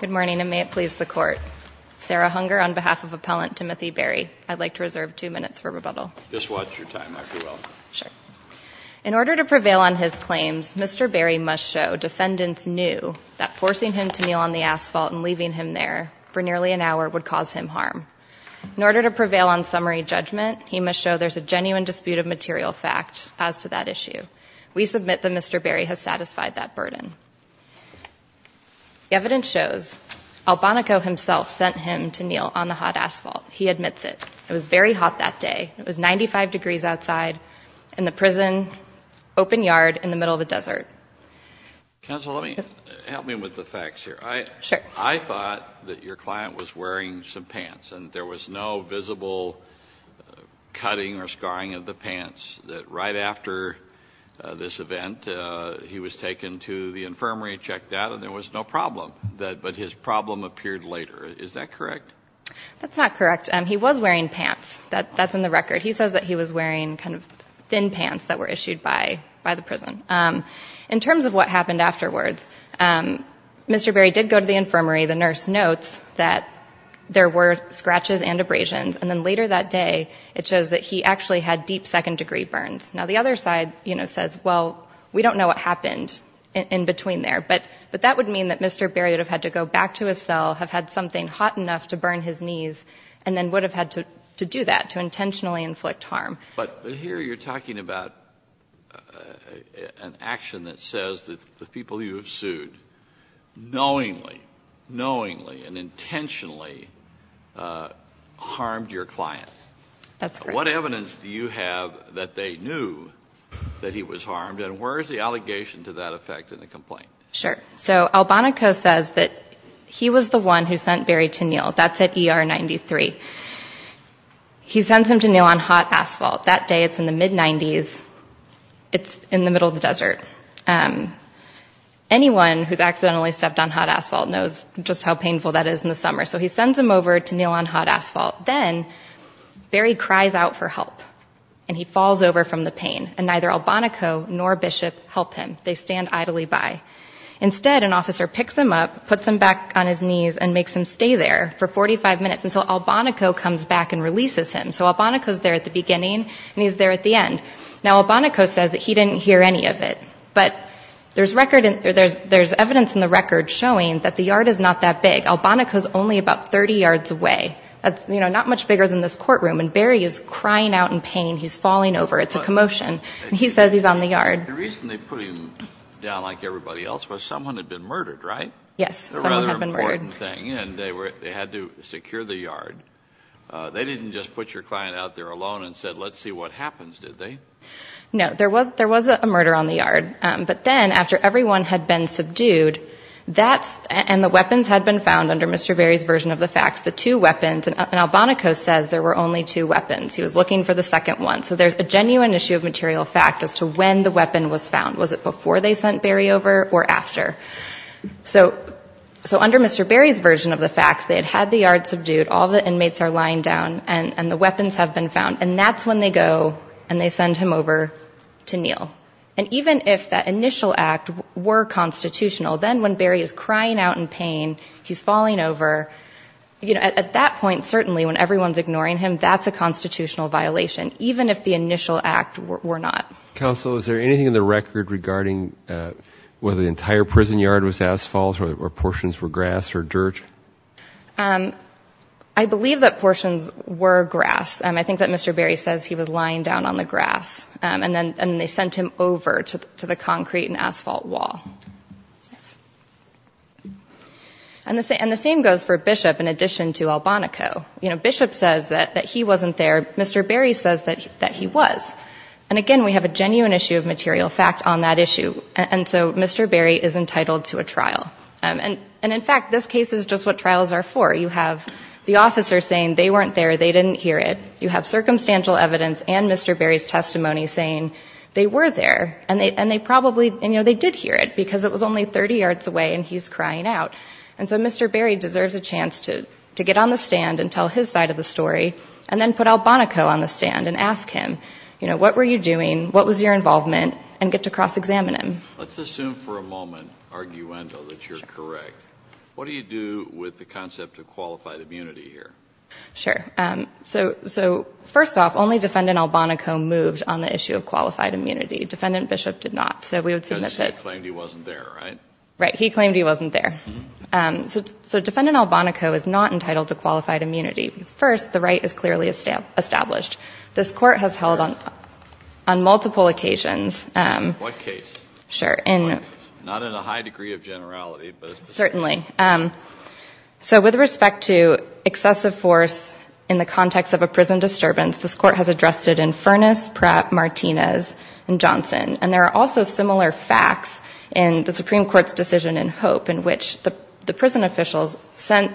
Good morning and may it please the Court. Sarah Hunger on behalf of Appellant Timothy Barry, I'd like to reserve two minutes for rebuttal. Just watch your time, Dr. Wells. Sure. In order to prevail on his claims, Mr. Barry must show defendants knew that forcing him to kneel on the asphalt and leaving him there for nearly an hour would cause him harm. In order to prevail on summary judgment, he must show there's a genuine dispute of material fact as to that issue. We submit that Mr. Barry has satisfied that burden. The evidence shows Albonaco himself sent him to kneel on the hot asphalt. He admits it. It was very hot that day. It was 95 degrees outside in the prison open yard in the middle of the desert. Counsel, help me with the facts here. I thought that your client was wearing some pants and there was no visible cutting or scarring of the pants. That right after this event, he was taken to the infirmary, checked out, and there was no problem. But his problem appeared later. Is that correct? That's not correct. He was wearing pants. That's in the record. He says that he was wearing kind of thin pants that were issued by the prison. In terms of what happened afterwards, Mr. Barry did go to the infirmary. The nurse notes that there were scratches and abrasions. And then later that day, it shows that he actually had deep second-degree burns. Now, the other side, you know, says, well, we don't know what happened in between there. But that would mean that Mr. Barry would have had to go back to his cell, have had something hot enough to burn his knees, and then would have had to do that, to intentionally inflict harm. But here you're talking about an action that says that the people you have sued knowingly, and intentionally, harmed your client. That's correct. What evidence do you have that they knew that he was harmed? And where is the allegation to that effect in the complaint? Sure. So, Albonaco says that he was the one who sent Barry to kneel. That's at ER 93. He sends him to kneel on hot asphalt. That day, it's in the mid-'90s. It's in the middle of the desert. Anyone who's accidentally stepped on hot asphalt knows just how painful that is in the summer. So he sends him over to kneel on hot asphalt. Then, Barry cries out for help. And he falls over from the pain. And neither Albonaco nor Bishop help him. They stand idly by. Instead, an officer picks him up, puts him back on his knees, and makes him stay there for 45 minutes until Albonaco comes back and releases him. So Albonaco's there at the beginning, and he's there at the end. Now, Albonaco says that he didn't hear any of it. But there's evidence in the record showing that the yard is not that big. Albonaco's only about 30 yards away. That's, you know, not much bigger than this courtroom. And Barry is crying out in pain. He's falling over. It's a commotion. And he says he's on the yard. The reason they put him down like everybody else was someone had been murdered, right? Yes. Someone had been murdered. It's a rather important thing. And they had to secure the yard. They didn't just put your client out there alone and said, let's see what happens, did they? No. There was a murder on the yard. But then, after everyone had been subdued, and the weapons had been found under Mr. Barry's version of the facts, the two weapons, and Albonaco says there were only two weapons. He was looking for the second one. So there's a genuine issue of material fact as to when the weapon was found. Was it before they sent Barry over or after? So under Mr. Barry's version of the facts, they had had the yard subdued, all the inmates are lying down, and the weapons have been found. And that's when they go and they send him over to Neal. And even if that initial act were constitutional, then when Barry is crying out in pain, he's falling over, at that point, certainly, when everyone's ignoring him, that's a constitutional violation, even if the initial act were not. Counsel, is there anything in the record regarding whether the entire prison yard was asphalt or portions were grass or dirt? I believe that portions were grass. I think that Mr. Barry says he was lying down on the grass. And then they sent him over to the concrete and asphalt wall. And the same goes for Bishop in addition to Albonaco. You know, Bishop says that he wasn't there. Mr. Barry says that he was. And, again, we have a genuine issue of material fact on that issue. And so Mr. Barry is entitled to a trial. And, in fact, this case is just what trials are for. You have the officer saying they weren't there, they didn't hear it. You have circumstantial evidence and Mr. Barry's testimony saying they were there. And they probably, you know, they did hear it because it was only 30 yards away and he's crying out. And so Mr. Barry deserves a chance to get on the stand and tell his side of the story and then put Albonaco on the stand and ask him, you know, what were you doing? What was your involvement? And get to cross-examine him. Let's assume for a moment, arguendo, that you're correct. What do you do with the concept of qualified immunity here? Sure. So, first off, only Defendant Albonaco moved on the issue of qualified immunity. Defendant Bishop did not. Because he claimed he wasn't there, right? Right. He claimed he wasn't there. So Defendant Albonaco is not entitled to qualified immunity. First, the right is clearly established. This Court has held on multiple occasions. In what case? Sure. Not in a high degree of generality. Certainly. So with respect to excessive force in the context of a prison disturbance, this Court has addressed it in Furness, Pratt, Martinez, and Johnson. And there are also similar facts in the Supreme Court's decision in Hope in which the prison officials sent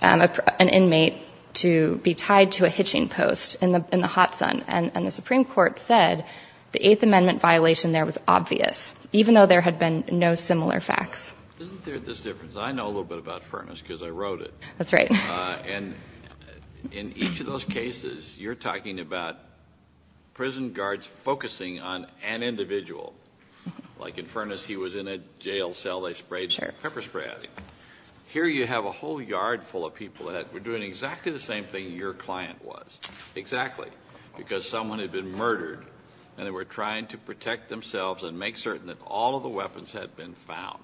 an inmate to be tied to a hitching post in the hot sun. And the Supreme Court said the Eighth Amendment violation there was obvious, even though there had been no similar facts. Isn't there this difference? I know a little bit about Furness because I wrote it. That's right. And in each of those cases, you're talking about prison guards focusing on an individual. Like in Furness, he was in a jail cell. They sprayed pepper spray at him. Here you have a whole yard full of people that were doing exactly the same thing your client was. Exactly. Because someone had been murdered, and they were trying to protect themselves and make certain that all of the weapons had been found.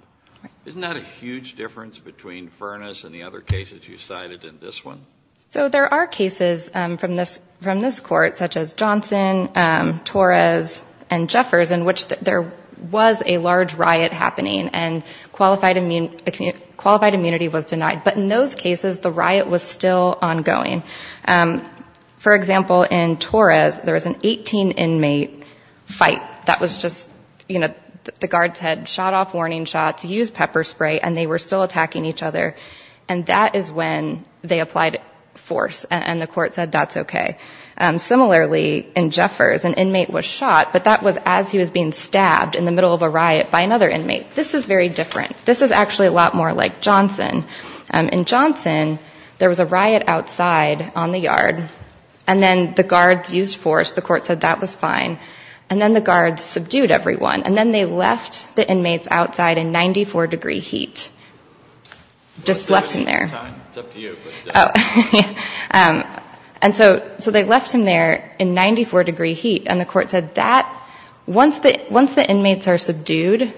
Isn't that a huge difference between Furness and the other cases you cited in this one? So there are cases from this court, such as Johnson, Torres, and Jeffers, in which there was a large riot happening and qualified immunity was denied. But in those cases, the riot was still ongoing. For example, in Torres, there was an 18-inmate fight that was just, you know, the guards had shot off warning shots, used pepper spray, and they were still attacking each other. And that is when they applied force, and the court said that's okay. Similarly, in Jeffers, an inmate was shot, but that was as he was being stabbed in the middle of a riot by another inmate. This is very different. This is actually a lot more like Johnson. In Johnson, there was a riot outside on the yard, and then the guards used force. The court said that was fine. And then the guards subdued everyone, and then they left the inmates outside in 94-degree heat. Just left him there. It's up to you. And so they left him there in 94-degree heat, and the court said that once the inmates are subdued,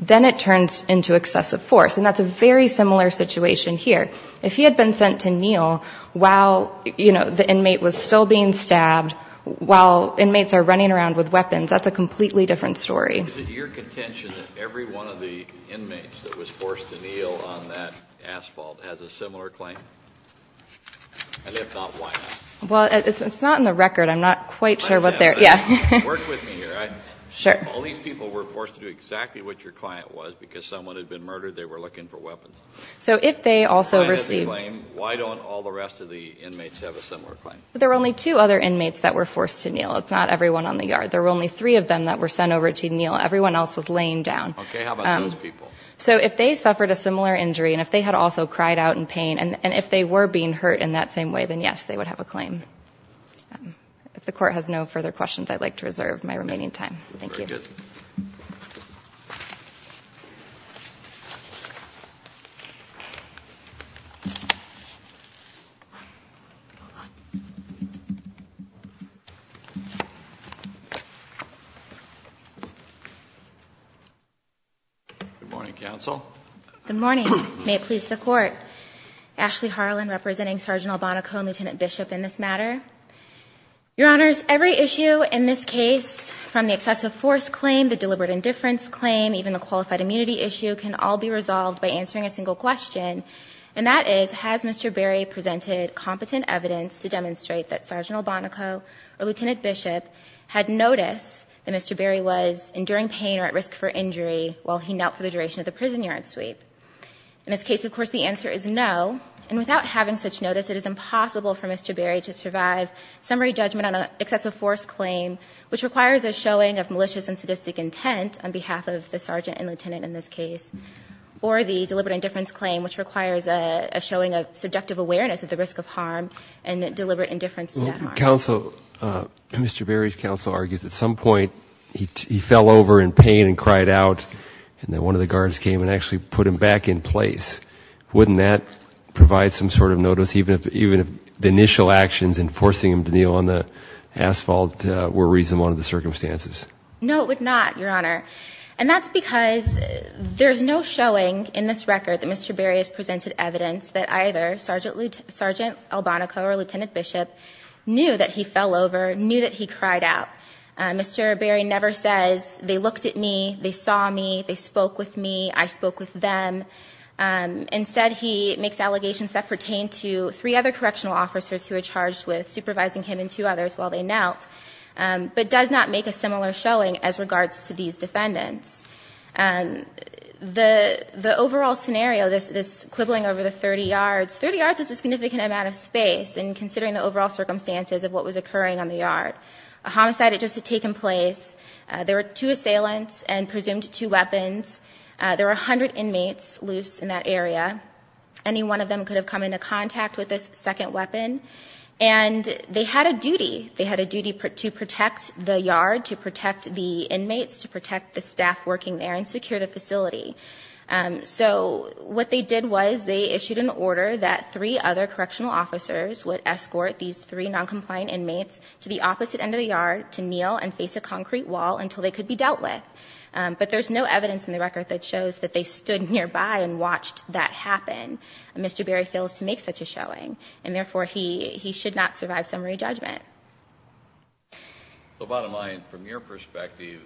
then it turns into excessive force. And that's a very similar situation here. If he had been sent to kneel while, you know, the inmate was still being stabbed, while inmates are running around with weapons, that's a completely different story. Is it your contention that every one of the inmates that was forced to kneel on that asphalt has a similar claim? And if not, why not? Well, it's not in the record. I'm not quite sure what their – yeah. Work with me here. Sure. All these people were forced to do exactly what your client was because someone had been murdered. They were looking for weapons. So if they also received – Why don't all the rest of the inmates have a similar claim? There were only two other inmates that were forced to kneel. It's not everyone on the yard. There were only three of them that were sent over to kneel. Everyone else was laying down. Okay. How about those people? So if they suffered a similar injury and if they had also cried out in pain, and if they were being hurt in that same way, then, yes, they would have a claim. If the court has no further questions, I'd like to reserve my remaining time. Thank you. Very good. Good morning, counsel. Good morning. May it please the Court. Ashley Harlan representing Sgt. Albonaco and Lt. Bishop in this matter. Your Honors, every issue in this case, from the excessive force claim, the deliberate indifference claim, even the qualified immunity issue, can all be resolved by answering a single question, and that is has Mr. Berry presented competent evidence to demonstrate that Sgt. Berry was enduring pain or at risk for injury while he knelt for the duration of the prison yard sweep? In this case, of course, the answer is no, and without having such notice, it is impossible for Mr. Berry to survive summary judgment on an excessive force claim, which requires a showing of malicious and sadistic intent on behalf of the sergeant and lieutenant in this case, or the deliberate indifference claim, which requires a showing of subjective awareness of the risk of harm and deliberate indifference to that harm. Counsel, Mr. Berry's counsel argues at some point he fell over in pain and cried out, and then one of the guards came and actually put him back in place. Wouldn't that provide some sort of notice, even if the initial actions in forcing him to kneel on the asphalt were reasonable under the circumstances? No, it would not, Your Honor, and that's because there's no showing in this record that Mr. Berry has presented evidence that either Sgt. Albonaco or Lt. Bishop knew that he fell over, knew that he cried out. Mr. Berry never says, they looked at me, they saw me, they spoke with me, I spoke with them. Instead, he makes allegations that pertain to three other correctional officers who were charged with supervising him and two others while they knelt, but does not make a similar showing as regards to these defendants. The overall scenario, this quibbling over the 30 yards, 30 yards is a significant amount of space in considering the overall circumstances of what was occurring on the yard. A homicide had just taken place. There were two assailants and presumed two weapons. There were 100 inmates loose in that area. Any one of them could have come into contact with this second weapon, and they had a duty. They had a duty to protect the yard, to protect the inmates, to protect the staff working there, and secure the facility. So what they did was they issued an order that three other correctional officers would escort these three noncompliant inmates to the opposite end of the yard to kneel and face a concrete wall until they could be dealt with. But there's no evidence in the record that shows that they stood nearby and watched that happen. Mr. Berry fails to make such a showing, and therefore, he should not survive summary judgment. Well, bottom line, from your perspective,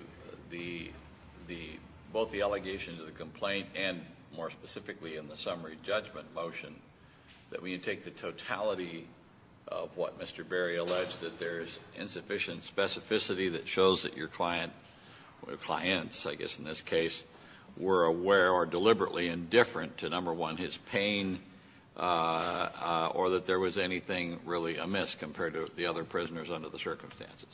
both the allegation to the complaint and more specifically in the summary judgment motion, that when you take the totality of what Mr. Berry alleged, that there's insufficient specificity that shows that your client, or clients, I guess in this case, were aware or deliberately indifferent to, number one, his pain, or that there was anything really amiss compared to the other prisoners under the circumstances.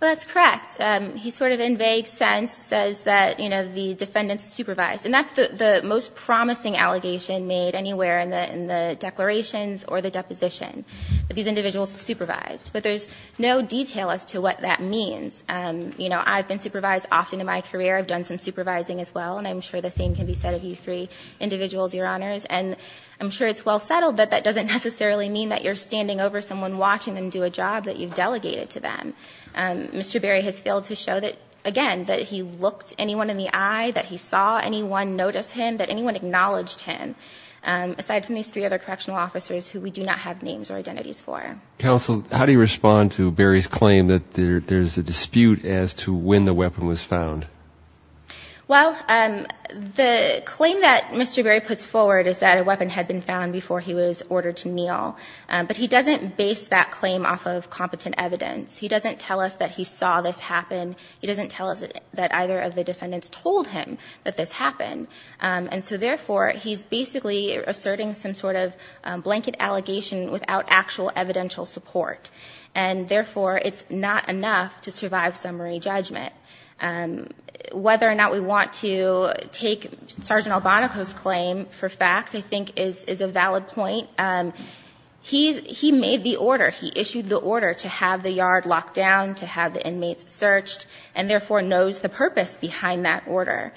Well, that's correct. He sort of in vague sense says that the defendants supervised, and that's the most promising allegation made anywhere in the declarations or the deposition, that these individuals supervised. But there's no detail as to what that means. I've been supervised often in my career. I've done some supervising as well, and I'm sure the same can be said of you three individuals, Your Honors. And I'm sure it's well settled that that doesn't necessarily mean that you're standing over someone watching them do a job that you've delegated to them. Mr. Berry has failed to show that, again, that he looked anyone in the eye, that he saw anyone notice him, that anyone acknowledged him, aside from these three other correctional officers who we do not have names or identities for. Counsel, how do you respond to Berry's claim that there's a dispute as to when the weapon was found? Well, the claim that Mr. Berry puts forward is that a weapon had been found before he was ordered to kneel. But he doesn't base that claim off of competent evidence. He doesn't tell us that he saw this happen. He doesn't tell us that either of the defendants told him that this happened. And so, therefore, he's basically asserting some sort of blanket allegation without actual evidential support. And, therefore, it's not enough to survive summary judgment. Whether or not we want to take Sergeant Albonaco's claim for facts, I think, is a valid point. He made the order. He issued the order to have the yard locked down, to have the inmates searched, and, therefore, knows the purpose behind that order.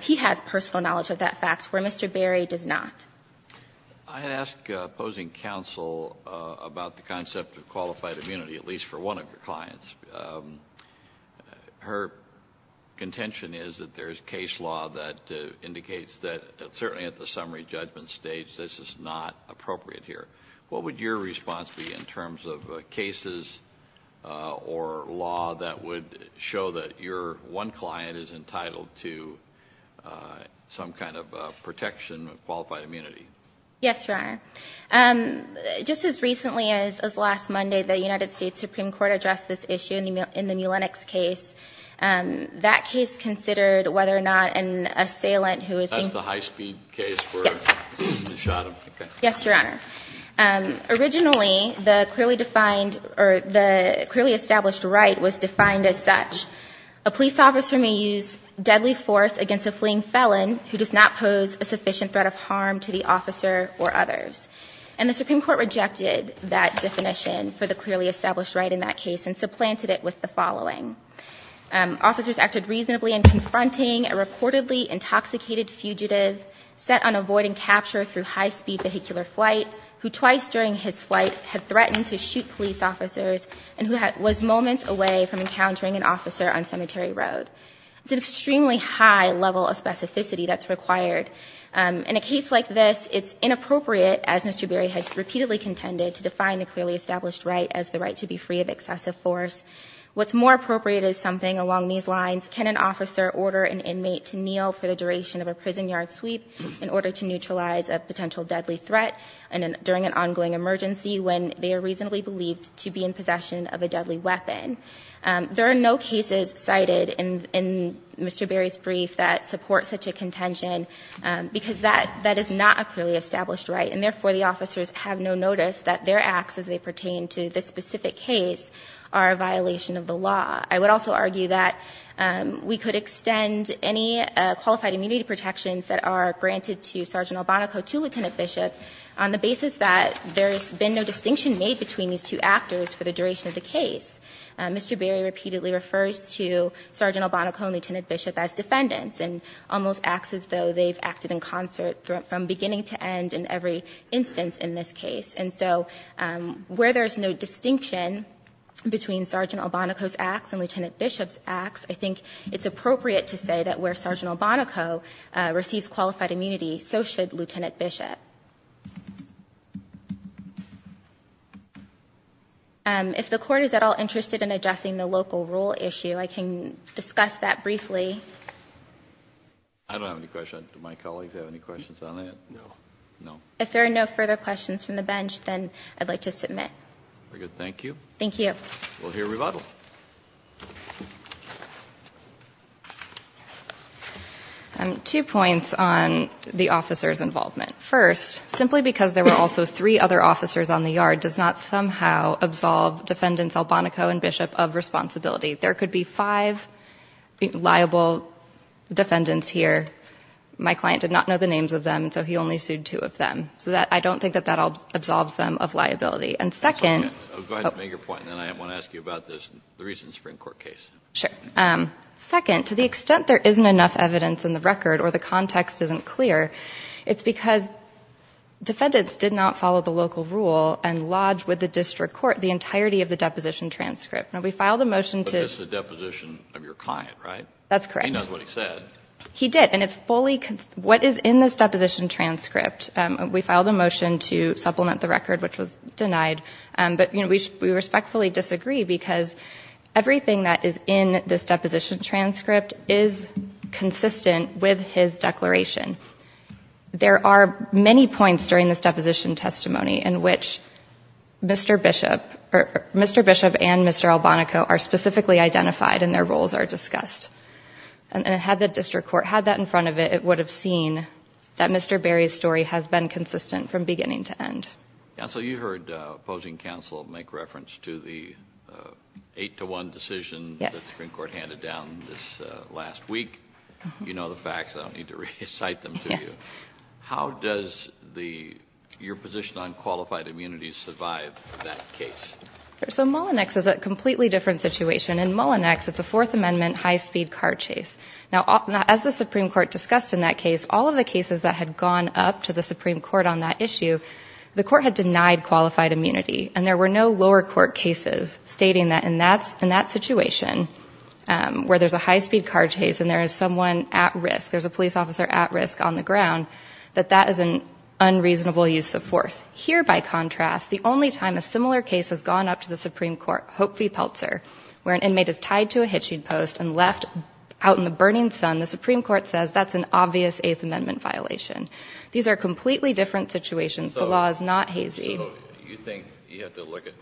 He has personal knowledge of that fact, where Mr. Berry does not. I had asked opposing counsel about the concept of qualified immunity, at least for one of your clients. Her contention is that there's case law that indicates that, certainly at the summary judgment stage, this is not appropriate here. What would your response be in terms of cases or law that would show that your one client is entitled to some kind of protection of qualified immunity? Yes, Your Honor. Just as recently as last Monday, the United States Supreme Court addressed this issue in the Mulenix case. That case considered whether or not an assailant who was being- That's the high-speed case where they shot him? Yes, Your Honor. Originally, the clearly established right was defined as such. A police officer may use deadly force against a fleeing felon who does not pose a sufficient threat of harm to the officer or others. And the Supreme Court rejected that definition for the clearly established right in that case and supplanted it with the following. Officers acted reasonably in confronting a reportedly intoxicated fugitive set on avoiding capture through high-speed vehicular flight, who twice during his flight had threatened to shoot police officers and who was moments away from encountering an officer on Cemetery Road. It's an extremely high level of specificity that's required. In a case like this, it's inappropriate, as Mr. Berry has repeatedly contended, to define the clearly established right as the right to be free of excessive force. What's more appropriate is something along these lines. Can an officer order an inmate to kneel for the duration of a prison yard sweep in order to neutralize a potential deadly threat during an ongoing emergency when they are reasonably believed to be in possession of a deadly weapon? There are no cases cited in Mr. Berry's brief that support such a contention because that is not a clearly established right. And therefore, the officers have no notice that their acts as they pertain to this specific case are a violation of the law. I would also argue that we could extend any qualified immunity protections that are granted to Sergeant Albonaco to Lieutenant Bishop on the basis that there's been no distinction made between these two actors for the duration of the case. Mr. Berry repeatedly refers to Sergeant Albonaco and Lieutenant Bishop as defendants and almost acts as though they've acted in concert from beginning to end in every instance in this case. And so where there's no distinction between Sergeant Albonaco's acts and Lieutenant Bishop's acts, I think it's appropriate to say that where Sergeant Albonaco receives qualified immunity, so should Lieutenant Bishop. If the Court is at all interested in adjusting the local rule issue, I can discuss that briefly. I don't have any questions. Do my colleagues have any questions on that? No. No. If there are no further questions from the bench, then I'd like to submit. Very good. Thank you. Thank you. We'll hear rebuttal. Two points on the officer's involvement. First, simply because there were also three other officers on the yard does not somehow absolve Defendants Albonaco and Bishop of responsibility. There could be five liable defendants here. My client did not know the names of them, so he only sued two of them. So I don't think that that absolves them of liability. Go ahead and make your point, and then I want to ask you about this, the recent Supreme Court case. Sure. Second, to the extent there isn't enough evidence in the record or the context isn't clear, it's because defendants did not follow the local rule and lodged with the district court the entirety of the deposition transcript. Now, we filed a motion to – But this is a deposition of your client, right? That's correct. He knows what he said. He did, and it's fully – what is in this deposition transcript. We filed a motion to supplement the record, which was denied. But, you know, we respectfully disagree because everything that is in this deposition transcript is consistent with his declaration. There are many points during this deposition testimony in which Mr. Bishop and Mr. Albonaco are specifically identified and their roles are discussed. And had the district court had that in front of it, it would have seen that Mr. Berry's story has been consistent from beginning to end. Counsel, you heard opposing counsel make reference to the 8-to-1 decision that the Supreme Court handed down this last week. You know the facts. I don't need to recite them to you. How does your position on qualified immunities survive that case? So Mullinex is a completely different situation. In Mullinex, it's a Fourth Amendment high-speed car chase. Now, as the Supreme Court discussed in that case, all of the cases that had gone up to the Supreme Court on that issue, the court had denied qualified immunity. And there were no lower court cases stating that in that situation where there's a high-speed car chase and there is someone at risk, there's a police officer at risk on the ground, that that is an unreasonable use of force. Here, by contrast, the only time a similar case has gone up to the Supreme Court, Hope v. Pelzer, where an inmate is tied to a hitching post and left out in the burning sun, the Supreme Court says that's an obvious Eighth Amendment violation. These are completely different situations. The law is not hazy. So you think you have to look at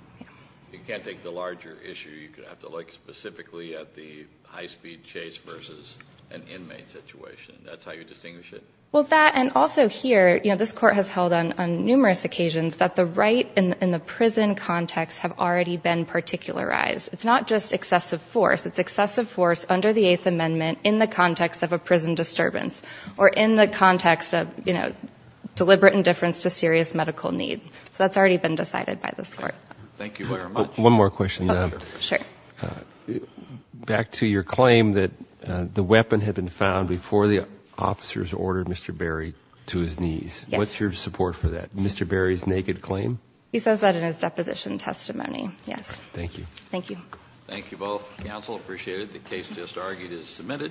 – you can't take the larger issue. You have to look specifically at the high-speed chase versus an inmate situation. That's how you distinguish it? Well, that – and also here, you know, this court has held on numerous occasions that the right in the prison context have already been particularized. It's not just excessive force. It's excessive force under the Eighth Amendment in the context of a prison disturbance or in the context of, you know, deliberate indifference to serious medical need. So that's already been decided by this court. Thank you very much. One more question. Sure. Back to your claim that the weapon had been found before the officers ordered Mr. Berry to his knees. Yes. What's your support for that? Mr. Berry's naked claim? He says that in his deposition testimony, yes. Thank you. Thank you. Thank you both. Counsel, appreciate it. The case just argued is submitted.